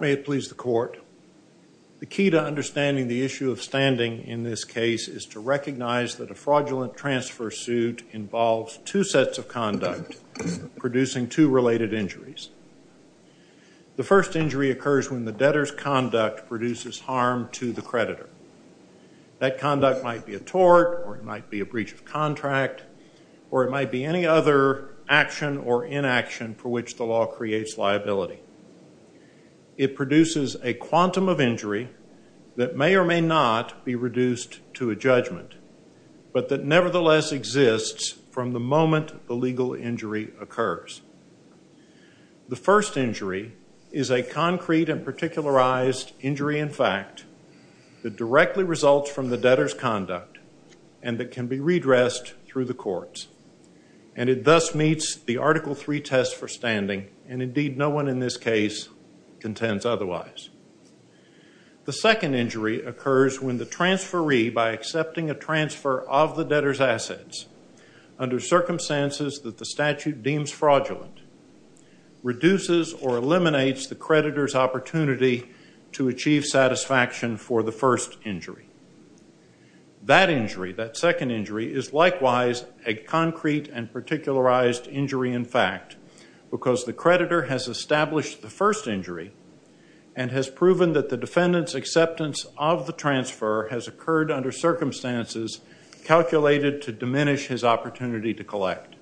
May it please the court. The key to understanding the issue of standing in this case is to recognize that a fraudulent transfer suit involves two sets of conduct producing two related injuries. The first injury occurs when the debtor's conduct produces harm to the creditor. That conduct might be a tort or it might be a breach of contract or it might be any other action or inaction for which the law creates liability. It produces a quantum of injury that may or may not be reduced to a judgment but that nevertheless exists from the moment the legal injury occurs. The first injury is a concrete and particularized injury in fact that directly results from the debtor's conduct and that can be redressed through the courts. And it thus meets the Article III test for standing and indeed no one in this case contends otherwise. The second injury occurs when the transferee by accepting a transfer of the debtor's assets under circumstances that the statute deems fraudulent reduces or eliminates the creditor's opportunity to achieve satisfaction for the first injury. That injury, that second injury is likewise a concrete and particularized injury in fact because the creditor has established the first injury and has proven that the defendant's acceptance of the transfer has occurred under circumstances calculated to diminish his opportunity to collect.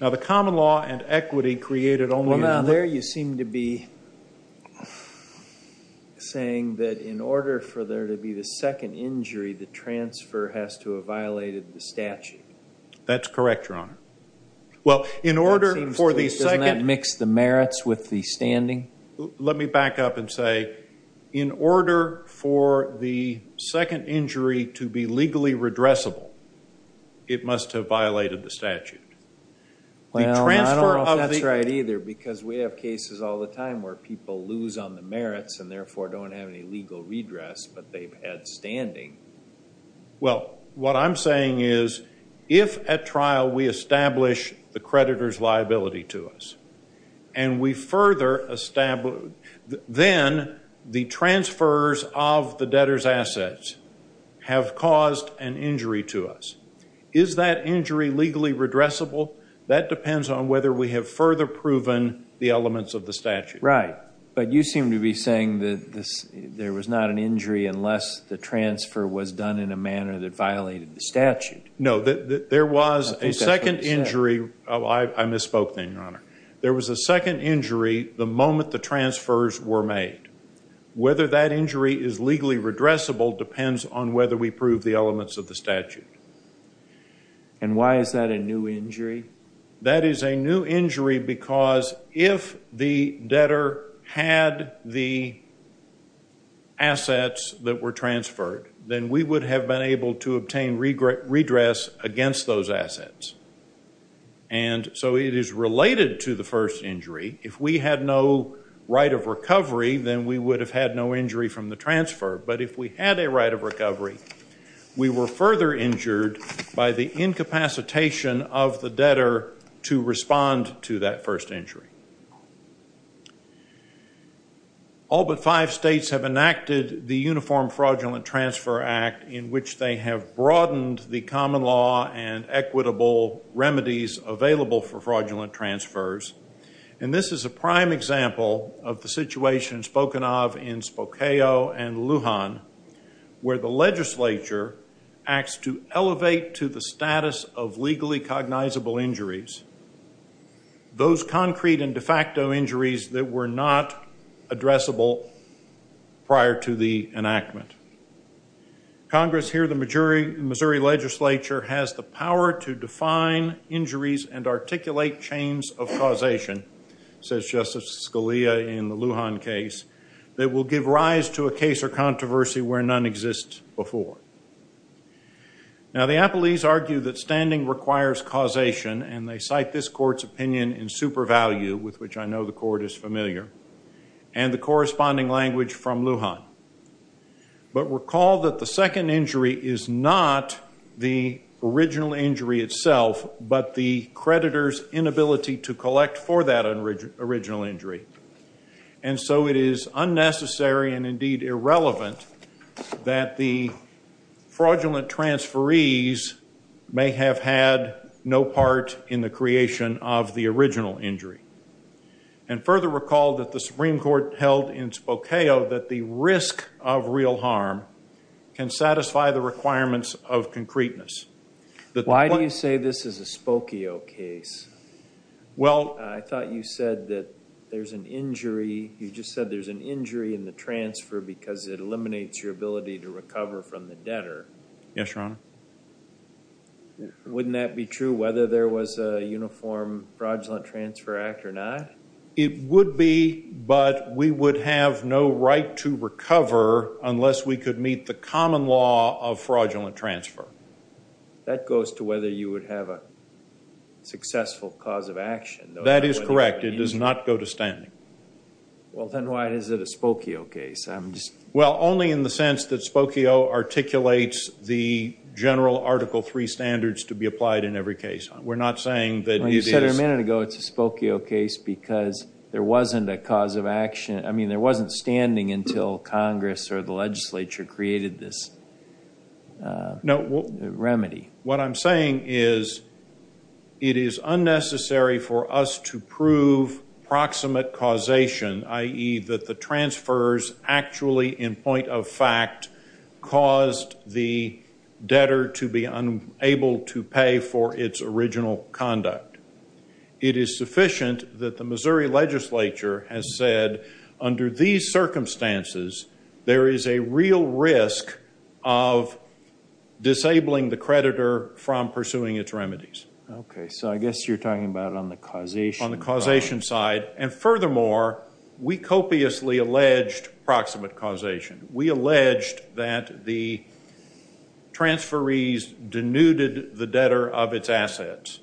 Now the common law and equity created only- Well now there you seem to be saying that in order for there to be the second injury the transfer has to have violated the statute. That's correct, Your Honor. Well in order for the second- Doesn't that mix the merits with the standing? Let me back up and say in order for the second injury to be legally redressable it must have violated the statute. Well I don't know if that's right either because we have cases all the time where people lose on the merits and therefore don't have any legal redress but they've had standing. Well what I'm saying is if at trial we establish the creditor's liability to us and we further establish- Then the transfers of the debtor's assets have caused an injury to us. Is that injury legally redressable? That depends on whether we have further proven the elements of the statute. Right, but you seem to be saying that there was not an injury unless the transfer was done in a manner that violated the statute. No, there was a second injury- I misspoke then, Your Honor. There was a second injury the moment the transfers were made. Whether that injury is legally redressable depends on whether we prove the elements of the statute. And why is that a new injury? That is a new injury because if the debtor had the assets that were transferred then we would have been able to obtain redress against those assets. And so it is related to the first injury. If we had no right of recovery then we would have had no injury from the transfer. But if we had a right of recovery we were further injured by the incapacitation of the debtor to respond to that first injury. All but five states have enacted the Uniform Fraudulent Transfer Act in which they have broadened the common law and equitable remedies available for fraudulent transfers. And this is a prime example of the situation spoken of in Spokane and Lujan where the legislature acts to elevate to the status of legally cognizable injuries those concrete and de facto injuries that were not addressable prior to the enactment. Congress here, the Missouri legislature, has the power to define injuries and articulate chains of causation, says Justice Scalia in the Lujan case, that will give rise to a case or controversy where none exists before. Now the appellees argue that standing requires causation and they cite this court's opinion in super value with which I know the court is familiar and the corresponding language from Lujan. But recall that the second injury is not the original injury itself but the creditor's inability to collect for that original injury. And so it is unnecessary and indeed irrelevant that the fraudulent transferees may have had no part in the creation of the original injury. And further recall that the Supreme Court held in Spokane that the risk of real harm can satisfy the requirements of concreteness. Why do you say this is a Spokane case? Well... I thought you said that there's an injury, you just said there's an injury in the transfer because it eliminates your ability to recover from the debtor. Yes, Your Honor. Wouldn't that be true whether there was a uniform fraudulent transfer act or not? It would be but we would have no right to recover unless we could meet the common law of fraudulent transfer. That goes to whether you would have a successful cause of action. That is correct, it does not go to standing. Well then why is it a Spokane case? Well, only in the sense that Spokio articulates the general Article III standards to be applied in every case. We're not saying that... You said a minute ago it's a Spokio case because there wasn't a cause of action, I mean there wasn't standing until Congress or the legislature created this remedy. What I'm saying is it is unnecessary for us to prove proximate causation, i.e. that the transfers actually in point of fact caused the debtor to be unable to pay for its original conduct. It is sufficient that the Missouri legislature has said under these circumstances there is a real risk of disabling the creditor from pursuing its remedies. Okay, so I guess you're talking about on the causation side. On the causation side and furthermore we copiously alleged proximate causation. We alleged that the transferees denuded the debtor of its assets.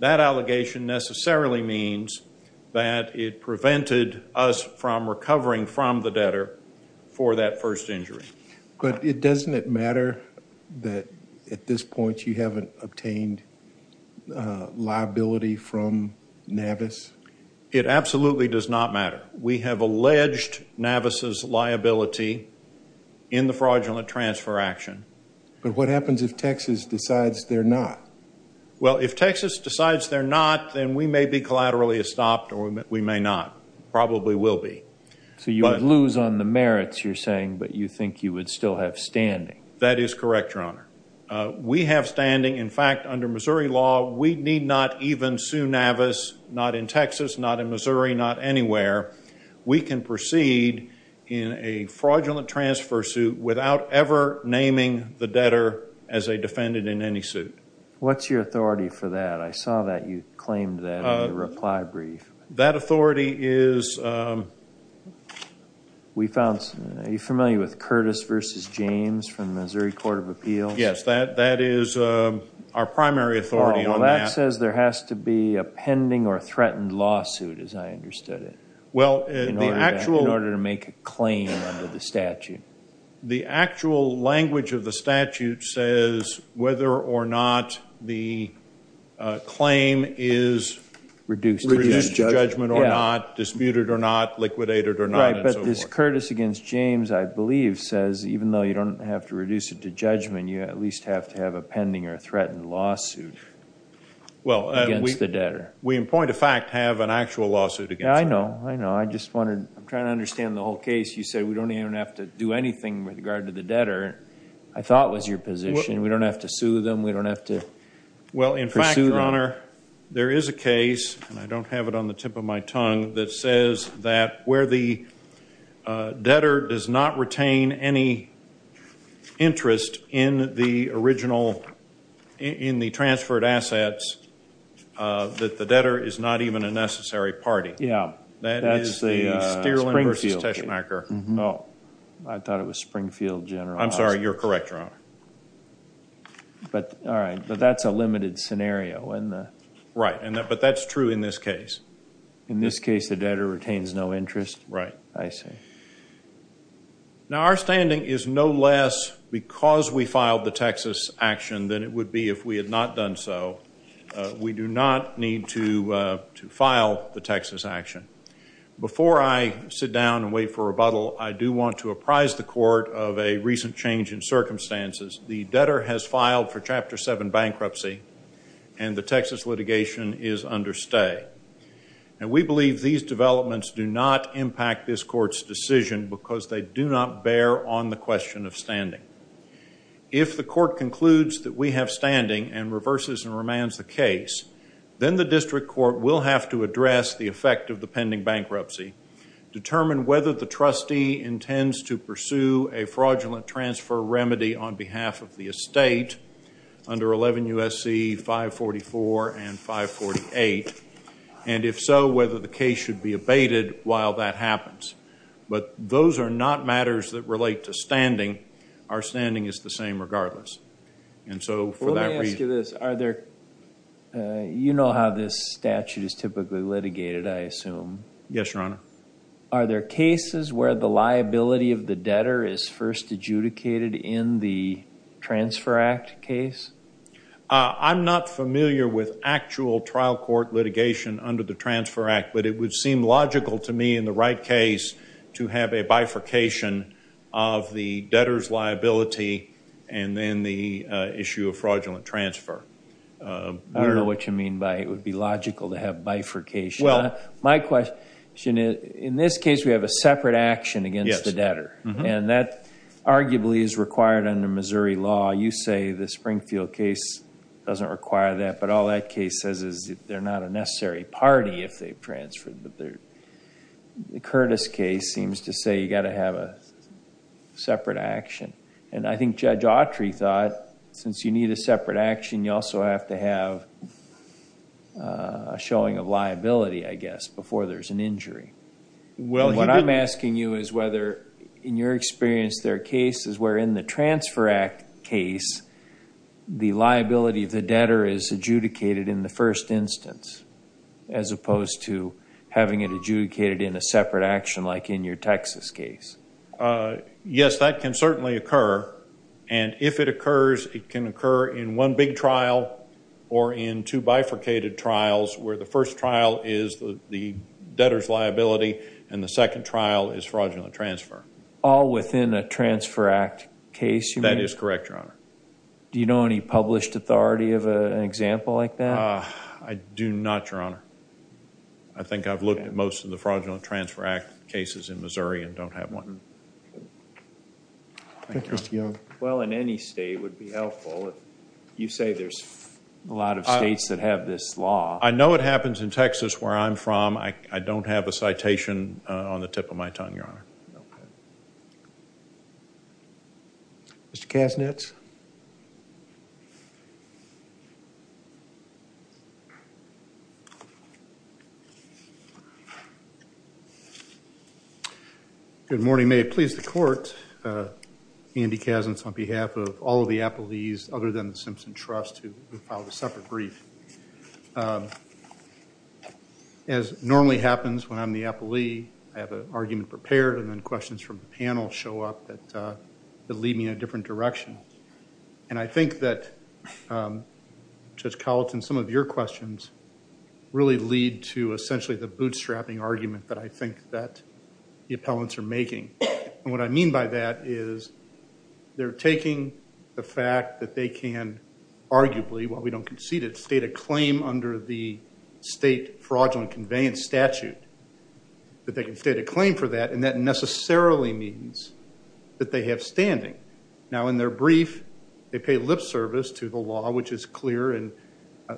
That allegation necessarily means that it prevented us from recovering from the debtor for that first injury. But doesn't it matter that at this point you haven't obtained liability from Navis? It absolutely does not matter. We have alleged Navis's liability in the fraudulent transfer action. But what happens if Texas decides they're not? Well, if Texas decides they're not, then we may be collaterally stopped or we may not. Probably will be. So you would lose on the merits you're saying, but you think you would still have standing. That is correct, Your Honor. We have standing. In fact, under Missouri law, we need not even sue Navis, not in Texas, not in Missouri, not anywhere. We can proceed in a fraudulent transfer suit without ever naming the debtor as a defendant in any suit. What's your authority for that? I saw that you claimed that in your reply brief. That authority is... Are you familiar with Curtis v. James from Missouri Court of Appeals? Yes, that is our primary authority on that. Curtis says there has to be a pending or threatened lawsuit, as I understood it, in order to make a claim under the statute. The actual language of the statute says whether or not the claim is reduced to judgment or not, disputed or not, liquidated or not, and so forth. This Curtis v. James, I believe, says even though you don't have to reduce it to judgment, you at least have to have a pending or threatened lawsuit against the debtor. We, in point of fact, have an actual lawsuit against him. I know, I know. I'm trying to understand the whole case. You said we don't even have to do anything with regard to the debtor, I thought was your position. We don't have to sue them, we don't have to pursue them. Well, in fact, Your Honor, there is a case, and I don't have it on the tip of my tongue, that says that where the debtor does not retain any interest in the original, in the transferred assets, that the debtor is not even a necessary party. Yeah, that's the Springfield case. That is the Stierlin v. Teschmacher. No, I thought it was Springfield General Hospital. I'm sorry, you're correct, Your Honor. All right, but that's a limited scenario. Right, but that's true in this case. In this case, the debtor retains no interest? Right. I see. Now, our standing is no less because we filed the Texas action than it would be if we had not done so. We do not need to file the Texas action. Before I sit down and wait for rebuttal, I do want to apprise the court of a recent change in circumstances. The debtor has filed for Chapter 7 bankruptcy, and the Texas litigation is under stay. And we believe these developments do not impact this court's decision because they do not bear on the question of standing. If the court concludes that we have standing and reverses and remands the case, then the district court will have to address the effect of the pending bankruptcy, determine whether the trustee intends to pursue a fraudulent transfer remedy on behalf of the estate under 11 U.S.C. 544 and 548, and if so, whether the case should be abated while that happens. But those are not matters that relate to standing. Our standing is the same regardless. Let me ask you this. You know how this statute is typically litigated, I assume. Yes, Your Honor. Are there cases where the liability of the debtor is first adjudicated in the Transfer Act case? I'm not familiar with actual trial court litigation under the Transfer Act, but it would seem logical to me in the right case to have a bifurcation of the debtor's liability and then the issue of fraudulent transfer. I don't know what you mean by it would be logical to have bifurcation. My question is, in this case, we have a separate action against the debtor, and that arguably is required under Missouri law. You say the Springfield case doesn't require that, but all that case says is they're not a necessary party if they've transferred. The Curtis case seems to say you got to have a separate action, and I think Judge Autry thought since you need a separate action, you also have to have a showing of liability, I guess, before there's an injury. What I'm asking you is whether, in your experience, there are cases where in the Transfer Act case the liability of the debtor is adjudicated in the first instance as opposed to having it adjudicated in a separate action like in your Texas case. Yes, that can certainly occur, and if it occurs, it can occur in one big trial or in two bifurcated trials where the first trial is the debtor's liability and the second trial is fraudulent transfer. All within a Transfer Act case, you mean? That is correct, Your Honor. Do you know any published authority of an example like that? I do not, Your Honor. I think I've looked at most of the fraudulent transfer act cases in Missouri and don't have one. Thank you, Mr. Young. Well, in any state would be helpful. You say there's a lot of states that have this law. I know it happens in Texas where I'm from. I don't have a citation on the tip of my tongue, Your Honor. Mr. Kasnitz? Good morning. May it please the Court, Andy Kasnitz on behalf of all of the appellees other than the Simpson Trust who filed a separate brief. As normally happens when I'm the appellee, I have an argument prepared and then questions from the panel show up that lead me in a different direction. And I think that, Judge Colleton, some of your questions really lead to essentially the bootstrapping argument that I think that the appellants are making. And what I mean by that is they're taking the fact that they can arguably, while we don't concede it, state a claim under the state fraudulent conveyance statute, that they can state a claim for that, and that necessarily means that they have standing. Now, in their brief, they pay lip service to the law, which is clear, and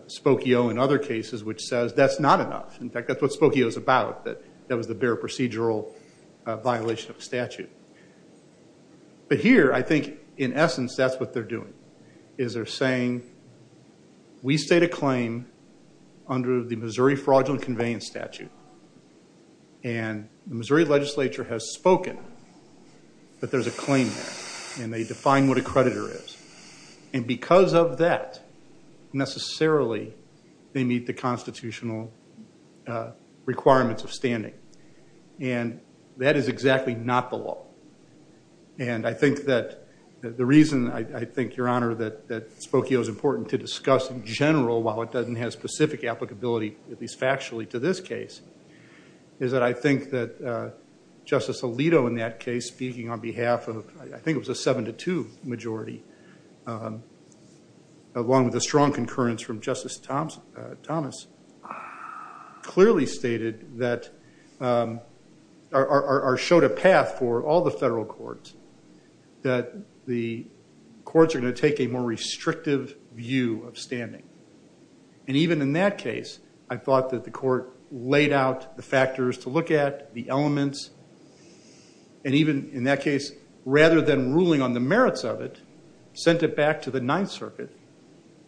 Spokio in other cases which says that's not enough. In fact, that's what Spokio is about, that that was the bare procedural violation of statute. But here, I think, in essence, that's what they're doing. Is they're saying, we state a claim under the Missouri fraudulent conveyance statute, and the Missouri legislature has spoken that there's a claim there, and they define what a creditor is. And because of that, necessarily, they meet the constitutional requirements of standing. And that is exactly not the law. And I think that the reason, I think, Your Honor, that Spokio is important to discuss in general, while it doesn't have specific applicability, at least factually, to this case, is that I think that Justice Alito in that case, speaking on behalf of, I think it was a 7-2 majority, along with a strong concurrence from Justice Thomas, clearly stated that or showed a path for all the federal courts that the courts are going to take a more restrictive view of standing. And even in that case, I thought that the court laid out the factors to look at, the elements. And even in that case, rather than ruling on the merits of it, sent it back to the Ninth Circuit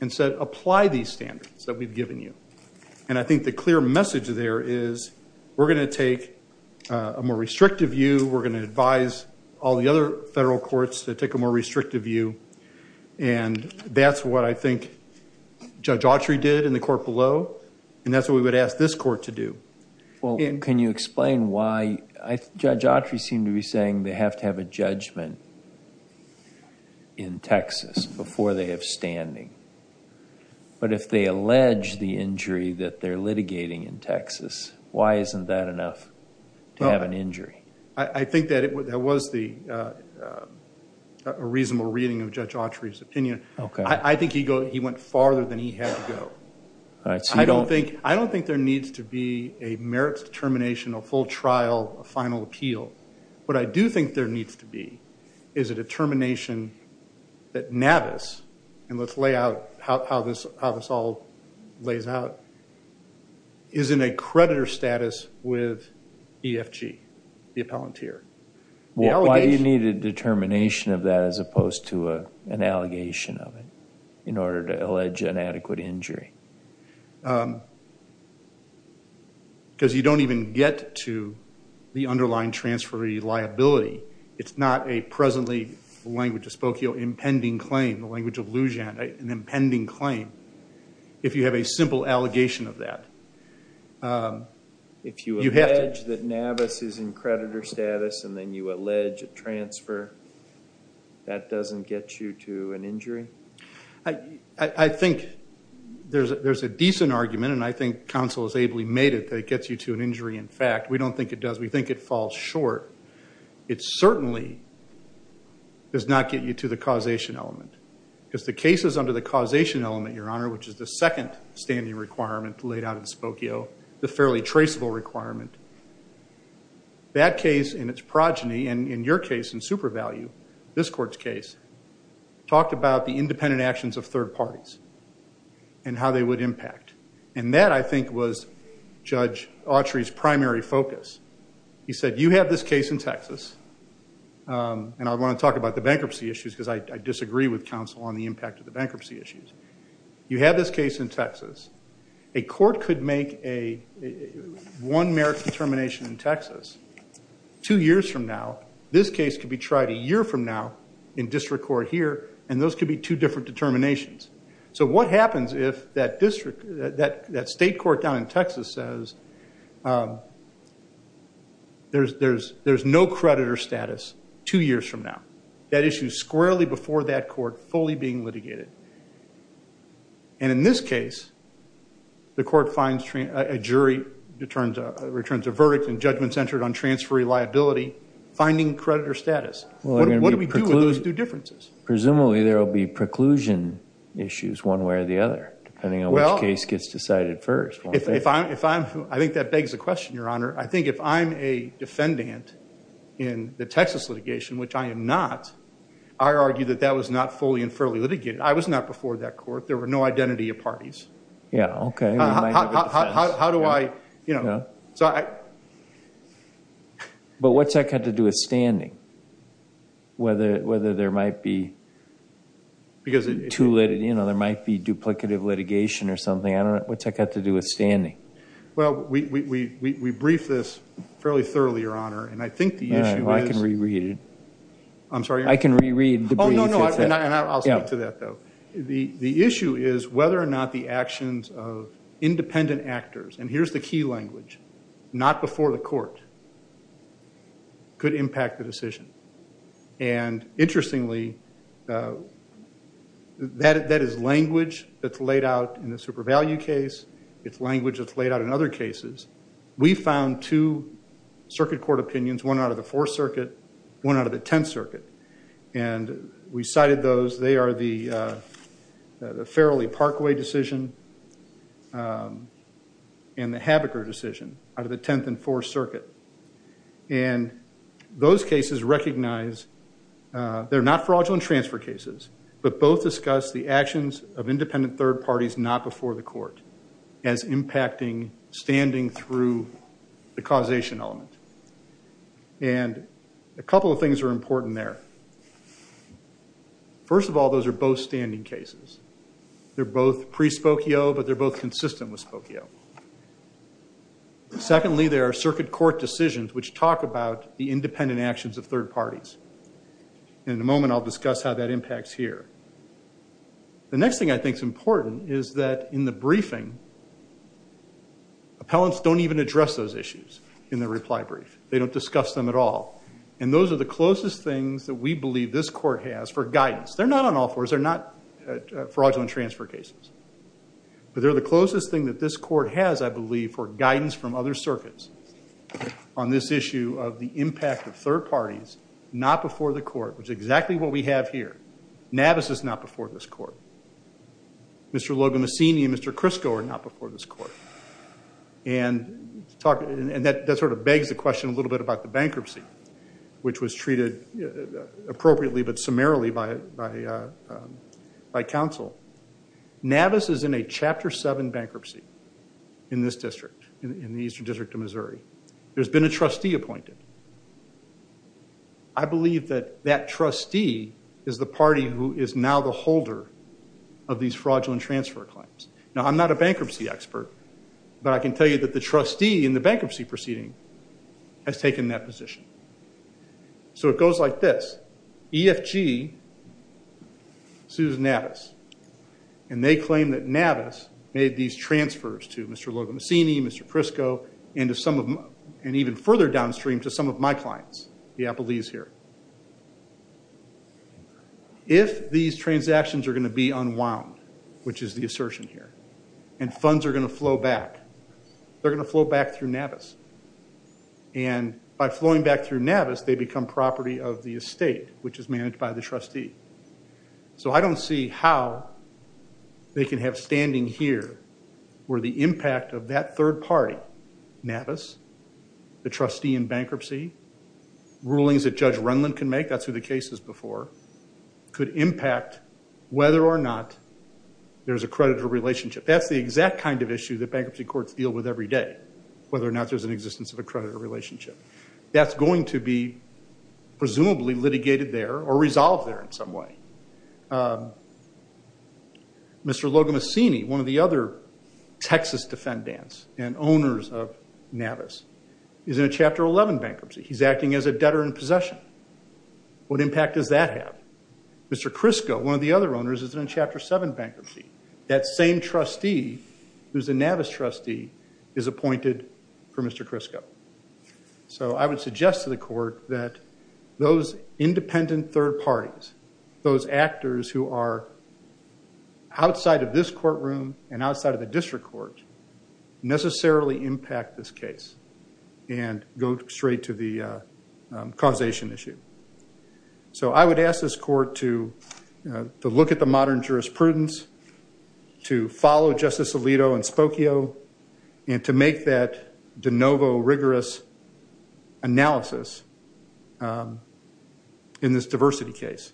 and said, apply these standards that we've given you. And I think the clear message there is we're going to take a more restrictive view. We're going to advise all the other federal courts to take a more restrictive view. And that's what I think Judge Autry did in the court below. And that's what we would ask this court to do. Well, can you explain why Judge Autry seemed to be saying they have to have a judgment in Texas before they have standing? But if they allege the injury that they're litigating in Texas, why isn't that enough to have an injury? I think that was a reasonable reading of Judge Autry's opinion. I think he went farther than he had to go. I don't think there needs to be a merits determination, a full trial, a final appeal. What I do think there needs to be is a determination that Navis, and let's lay out how this all lays out, is in a creditor status with EFG, the appellant here. Why do you need a determination of that as opposed to an allegation of it in order to allege inadequate injury? Because you don't even get to the underlying transferee liability. It's not a presently, the language of Spokio, impending claim, the language of Lujan, an impending claim, if you have a simple allegation of that. If you allege that Navis is in creditor status and then you allege a transfer, that doesn't get you to an injury? I think there's a decent argument, and I think counsel has ably made it, that it gets you to an injury. In fact, we don't think it does. We think it falls short. It certainly does not get you to the causation element. Because the cases under the causation element, Your Honor, which is the second standing requirement laid out in Spokio, the fairly traceable requirement, that case in its progeny, and in your case in super value, this court's case, talked about the independent actions of third parties and how they would impact. And that, I think, was Judge Autry's primary focus. He said, you have this case in Texas. And I want to talk about the bankruptcy issues because I disagree with counsel on the impact of the bankruptcy issues. You have this case in Texas. A court could make one merit determination in Texas two years from now. This case could be tried a year from now in district court here, and those could be two different determinations. So what happens if that state court down in Texas says there's no creditor status two years from now? That issue's squarely before that court, fully being litigated. And in this case, the court finds a jury, returns a verdict, and judgment's entered on transferee liability, finding creditor status. What do we do with those two differences? Presumably there will be preclusion issues one way or the other, depending on which case gets decided first. I think that begs the question, Your Honor. I think if I'm a defendant in the Texas litigation, which I am not, I argue that that was not fully and fairly litigated. I was not before that court. There were no identity of parties. Yeah, okay. How do I, you know? But what's that got to do with standing? Whether there might be, you know, there might be duplicative litigation or something. I don't know. What's that got to do with standing? Well, we briefed this fairly thoroughly, Your Honor, and I think the issue is— All right, well, I can reread it. I'm sorry? I can reread the brief. Oh, no, no, and I'll speak to that, though. The issue is whether or not the actions of independent actors, and here's the key language, not before the court, could impact the decision. And interestingly, that is language that's laid out in the super value case. It's language that's laid out in other cases. We found two circuit court opinions, one out of the Fourth Circuit, one out of the Tenth Circuit, and we cited those. They are the Farrelly-Parkway decision and the Habaker decision out of the Tenth and Fourth Circuit, and those cases recognize they're not fraudulent transfer cases, but both discuss the actions of independent third parties not before the court as impacting standing through the causation element. And a couple of things are important there. First of all, those are both standing cases. They're both pre-spokio, but they're both consistent with spokio. Secondly, there are circuit court decisions which talk about the independent actions of third parties. In a moment, I'll discuss how that impacts here. The next thing I think is important is that in the briefing, appellants don't even address those issues in the reply brief. They don't discuss them at all. And those are the closest things that we believe this court has for guidance. They're not on all fours. They're not fraudulent transfer cases. But they're the closest thing that this court has, I believe, for guidance from other circuits on this issue of the impact of third parties not before the court, which is exactly what we have here. Navis is not before this court. Mr. Logan Messini and Mr. Crisco are not before this court. And that sort of begs the question a little bit about the bankruptcy, which was treated appropriately but summarily by counsel. Navis is in a Chapter 7 bankruptcy in this district, in the Eastern District of Missouri. There's been a trustee appointed. I believe that that trustee is the party who is now the holder of these fraudulent transfer claims. Now, I'm not a bankruptcy expert, but I can tell you that the trustee in the bankruptcy proceeding has taken that position. So it goes like this. EFG sues Navis, and they claim that Navis made these transfers to Mr. Logan Messini, Mr. Crisco, and even further downstream to some of my clients, the Appellees here. If these transactions are going to be unwound, which is the assertion here, and funds are going to flow back, they're going to flow back through Navis. And by flowing back through Navis, they become property of the estate, which is managed by the trustee. So I don't see how they can have standing here where the impact of that third party, Navis, the trustee in bankruptcy, rulings that Judge Renlund can make, that's who the case is before, could impact whether or not there's a creditor relationship. That's the exact kind of issue that bankruptcy courts deal with every day, whether or not there's an existence of a creditor relationship. That's going to be presumably litigated there or resolved there in some way. Mr. Logan Messini, one of the other Texas defendants and owners of Navis, is in a Chapter 11 bankruptcy. He's acting as a debtor in possession. What impact does that have? Mr. Crisco, one of the other owners, is in a Chapter 7 bankruptcy. That same trustee who's a Navis trustee is appointed for Mr. Crisco. So I would suggest to the court that those independent third parties, those actors who are outside of this courtroom and outside of the district court, necessarily impact this case and go straight to the causation issue. So I would ask this court to look at the modern jurisprudence, to follow Justice Alito and Spokio, and to make that de novo rigorous analysis in this diversity case.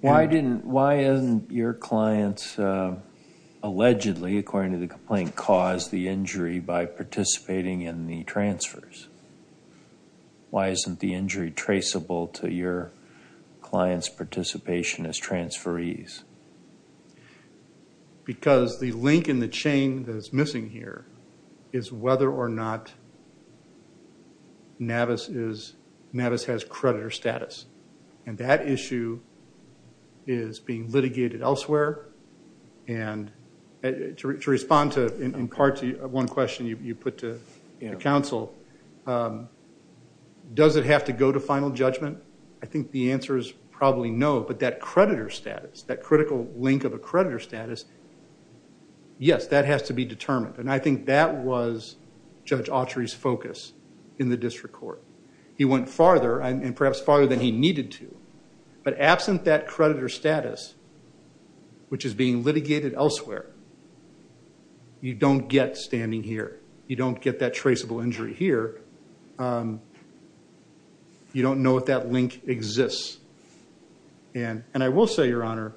Why isn't your client allegedly, according to the complaint, caused the injury by participating in the transfers? Why isn't the injury traceable to your client's participation as transferees? Because the link in the chain that is missing here is whether or not Navis has creditor status. And that issue is being litigated elsewhere. And to respond in part to one question you put to counsel, does it have to go to final judgment? I think the answer is probably no. But that creditor status, that critical link of a creditor status, yes, that has to be determined. And I think that was Judge Autry's focus in the district court. He went farther and perhaps farther than he needed to. But absent that creditor status, which is being litigated elsewhere, you don't get standing here. You don't get that traceable injury here. You don't know if that link exists. And I will say, Your Honor,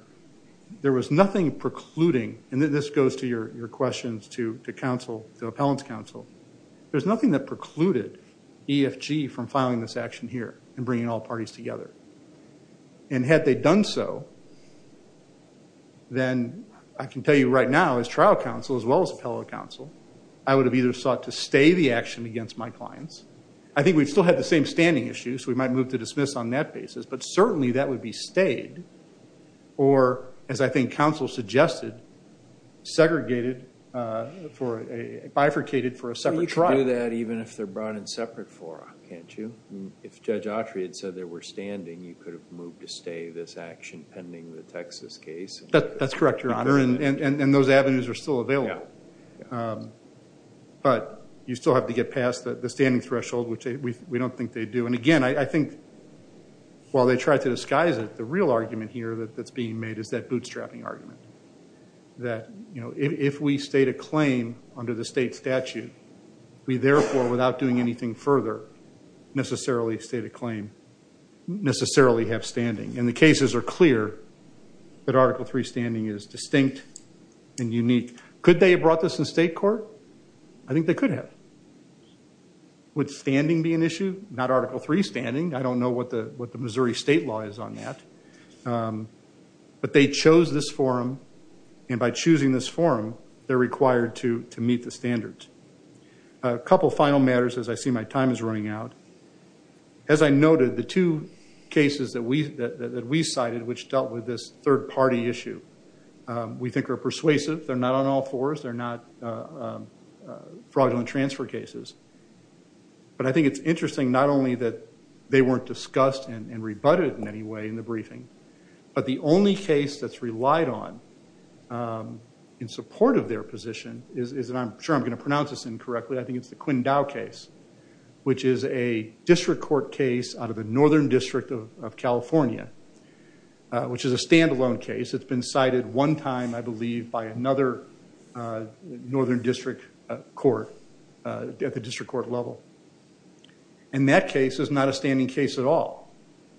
there was nothing precluding, and this goes to your questions to the appellant's counsel, there's nothing that precluded EFG from filing this action here and bringing all parties together. And had they done so, then I can tell you right now, as trial counsel as well as appellate counsel, I would have either sought to stay the action against my clients. I think we've still had the same standing issue, so we might move to dismiss on that basis. But certainly that would be stayed or, as I think counsel suggested, segregated, bifurcated for a separate trial. But you can do that even if they're brought in separate fora, can't you? If Judge Autry had said they were standing, you could have moved to stay this action pending the Texas case. That's correct, Your Honor. And those avenues are still available. But you still have to get past the standing threshold, which we don't think they do. And, again, I think while they tried to disguise it, the real argument here that's being made is that bootstrapping argument, that if we state a claim under the state statute, we therefore, without doing anything further, necessarily state a claim, necessarily have standing. And the cases are clear that Article III standing is distinct and unique. Could they have brought this in state court? I think they could have. Would standing be an issue? Not Article III standing. I don't know what the Missouri state law is on that. But they chose this forum, and by choosing this forum, they're required to meet the standards. A couple final matters, as I see my time is running out. As I noted, the two cases that we cited, which dealt with this third-party issue, we think are persuasive. They're not on all fours. They're not fraudulent transfer cases. But I think it's interesting not only that they weren't discussed and rebutted in any way in the briefing, but the only case that's relied on in support of their position is, and I'm sure I'm going to pronounce this incorrectly, but I think it's the Quindao case, which is a district court case out of the Northern District of California, which is a standalone case that's been cited one time, I believe, by another northern district court at the district court level. And that case is not a standing case at all.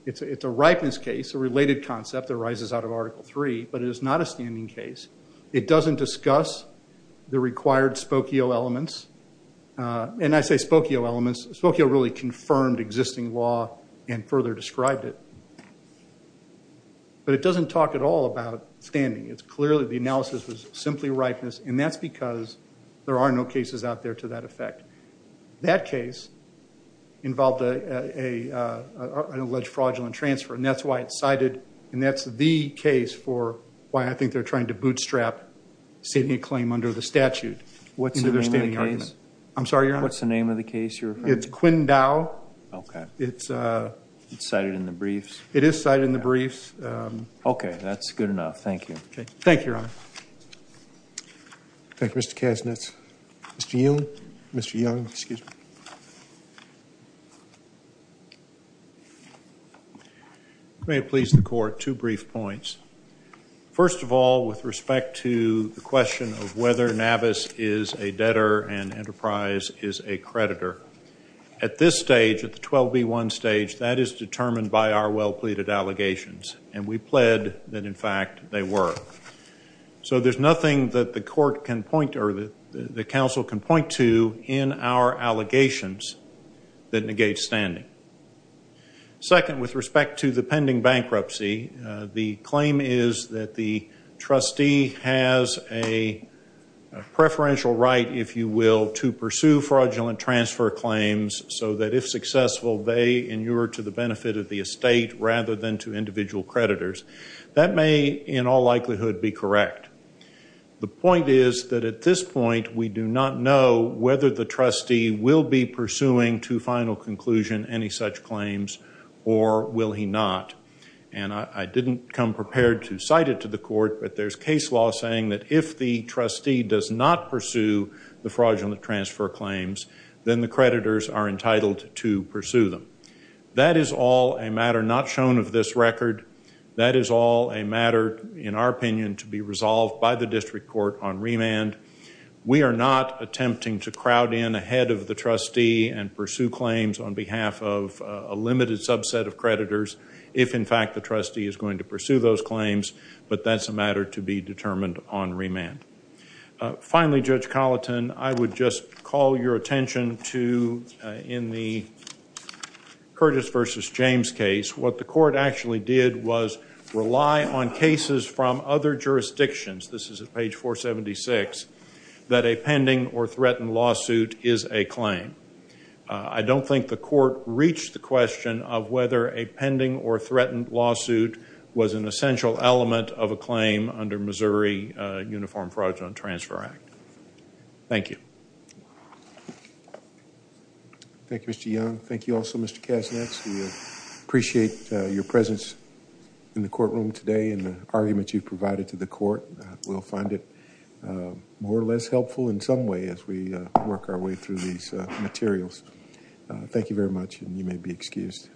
It's a ripeness case, a related concept that arises out of Article III, but it is not a standing case. It doesn't discuss the required Spokio elements. And I say Spokio elements. Spokio really confirmed existing law and further described it. But it doesn't talk at all about standing. It's clearly the analysis was simply ripeness, and that's because there are no cases out there to that effect. That case involved an alleged fraudulent transfer, and that's why it's cited, and that's the case for why I think they're trying to bootstrap sitting a claim under the statute. What's the name of the case? I'm sorry, Your Honor? What's the name of the case you're referring to? It's Quindao. Okay. It's cited in the briefs. It is cited in the briefs. Okay, that's good enough. Thank you. Thank you, Your Honor. Thank you, Mr. Kasnitz. Mr. Young? Mr. Young, excuse me. May it please the Court, two brief points. First of all, with respect to the question of whether Navis is a debtor and Enterprise is a creditor, at this stage, at the 12B1 stage, that is determined by our well-pleaded allegations, and we pled that, in fact, they were. So there's nothing that the court can point to or the counsel can point to in our allegations that negates standing. Second, with respect to the pending bankruptcy, the claim is that the trustee has a preferential right, if you will, to pursue fraudulent transfer claims so that if successful, they inure to the benefit of the estate rather than to individual creditors. That may, in all likelihood, be correct. The point is that at this point, we do not know whether the trustee will be pursuing to final conclusion any such claims or will he not. And I didn't come prepared to cite it to the court, but there's case law saying that if the trustee does not pursue the fraudulent transfer claims, then the creditors are entitled to pursue them. That is all a matter not shown of this record. That is all a matter, in our opinion, to be resolved by the district court on remand. We are not attempting to crowd in ahead of the trustee and pursue claims on behalf of a limited subset of creditors if, in fact, the trustee is going to pursue those claims, but that's a matter to be determined on remand. Finally, Judge Colleton, I would just call your attention to, in the Curtis v. James case, what the court actually did was rely on cases from other jurisdictions, this is at page 476, that a pending or threatened lawsuit is a claim. I don't think the court reached the question of whether a pending or threatened lawsuit was an essential element of a claim under Missouri Uniform Fraudulent Transfer Act. Thank you. Thank you, Mr. Young. Thank you also, Mr. Kasnetz. We appreciate your presence in the courtroom today and the argument you've provided to the court. We'll find it more or less helpful in some way as we work our way through these materials. Thank you very much, and you may be excused.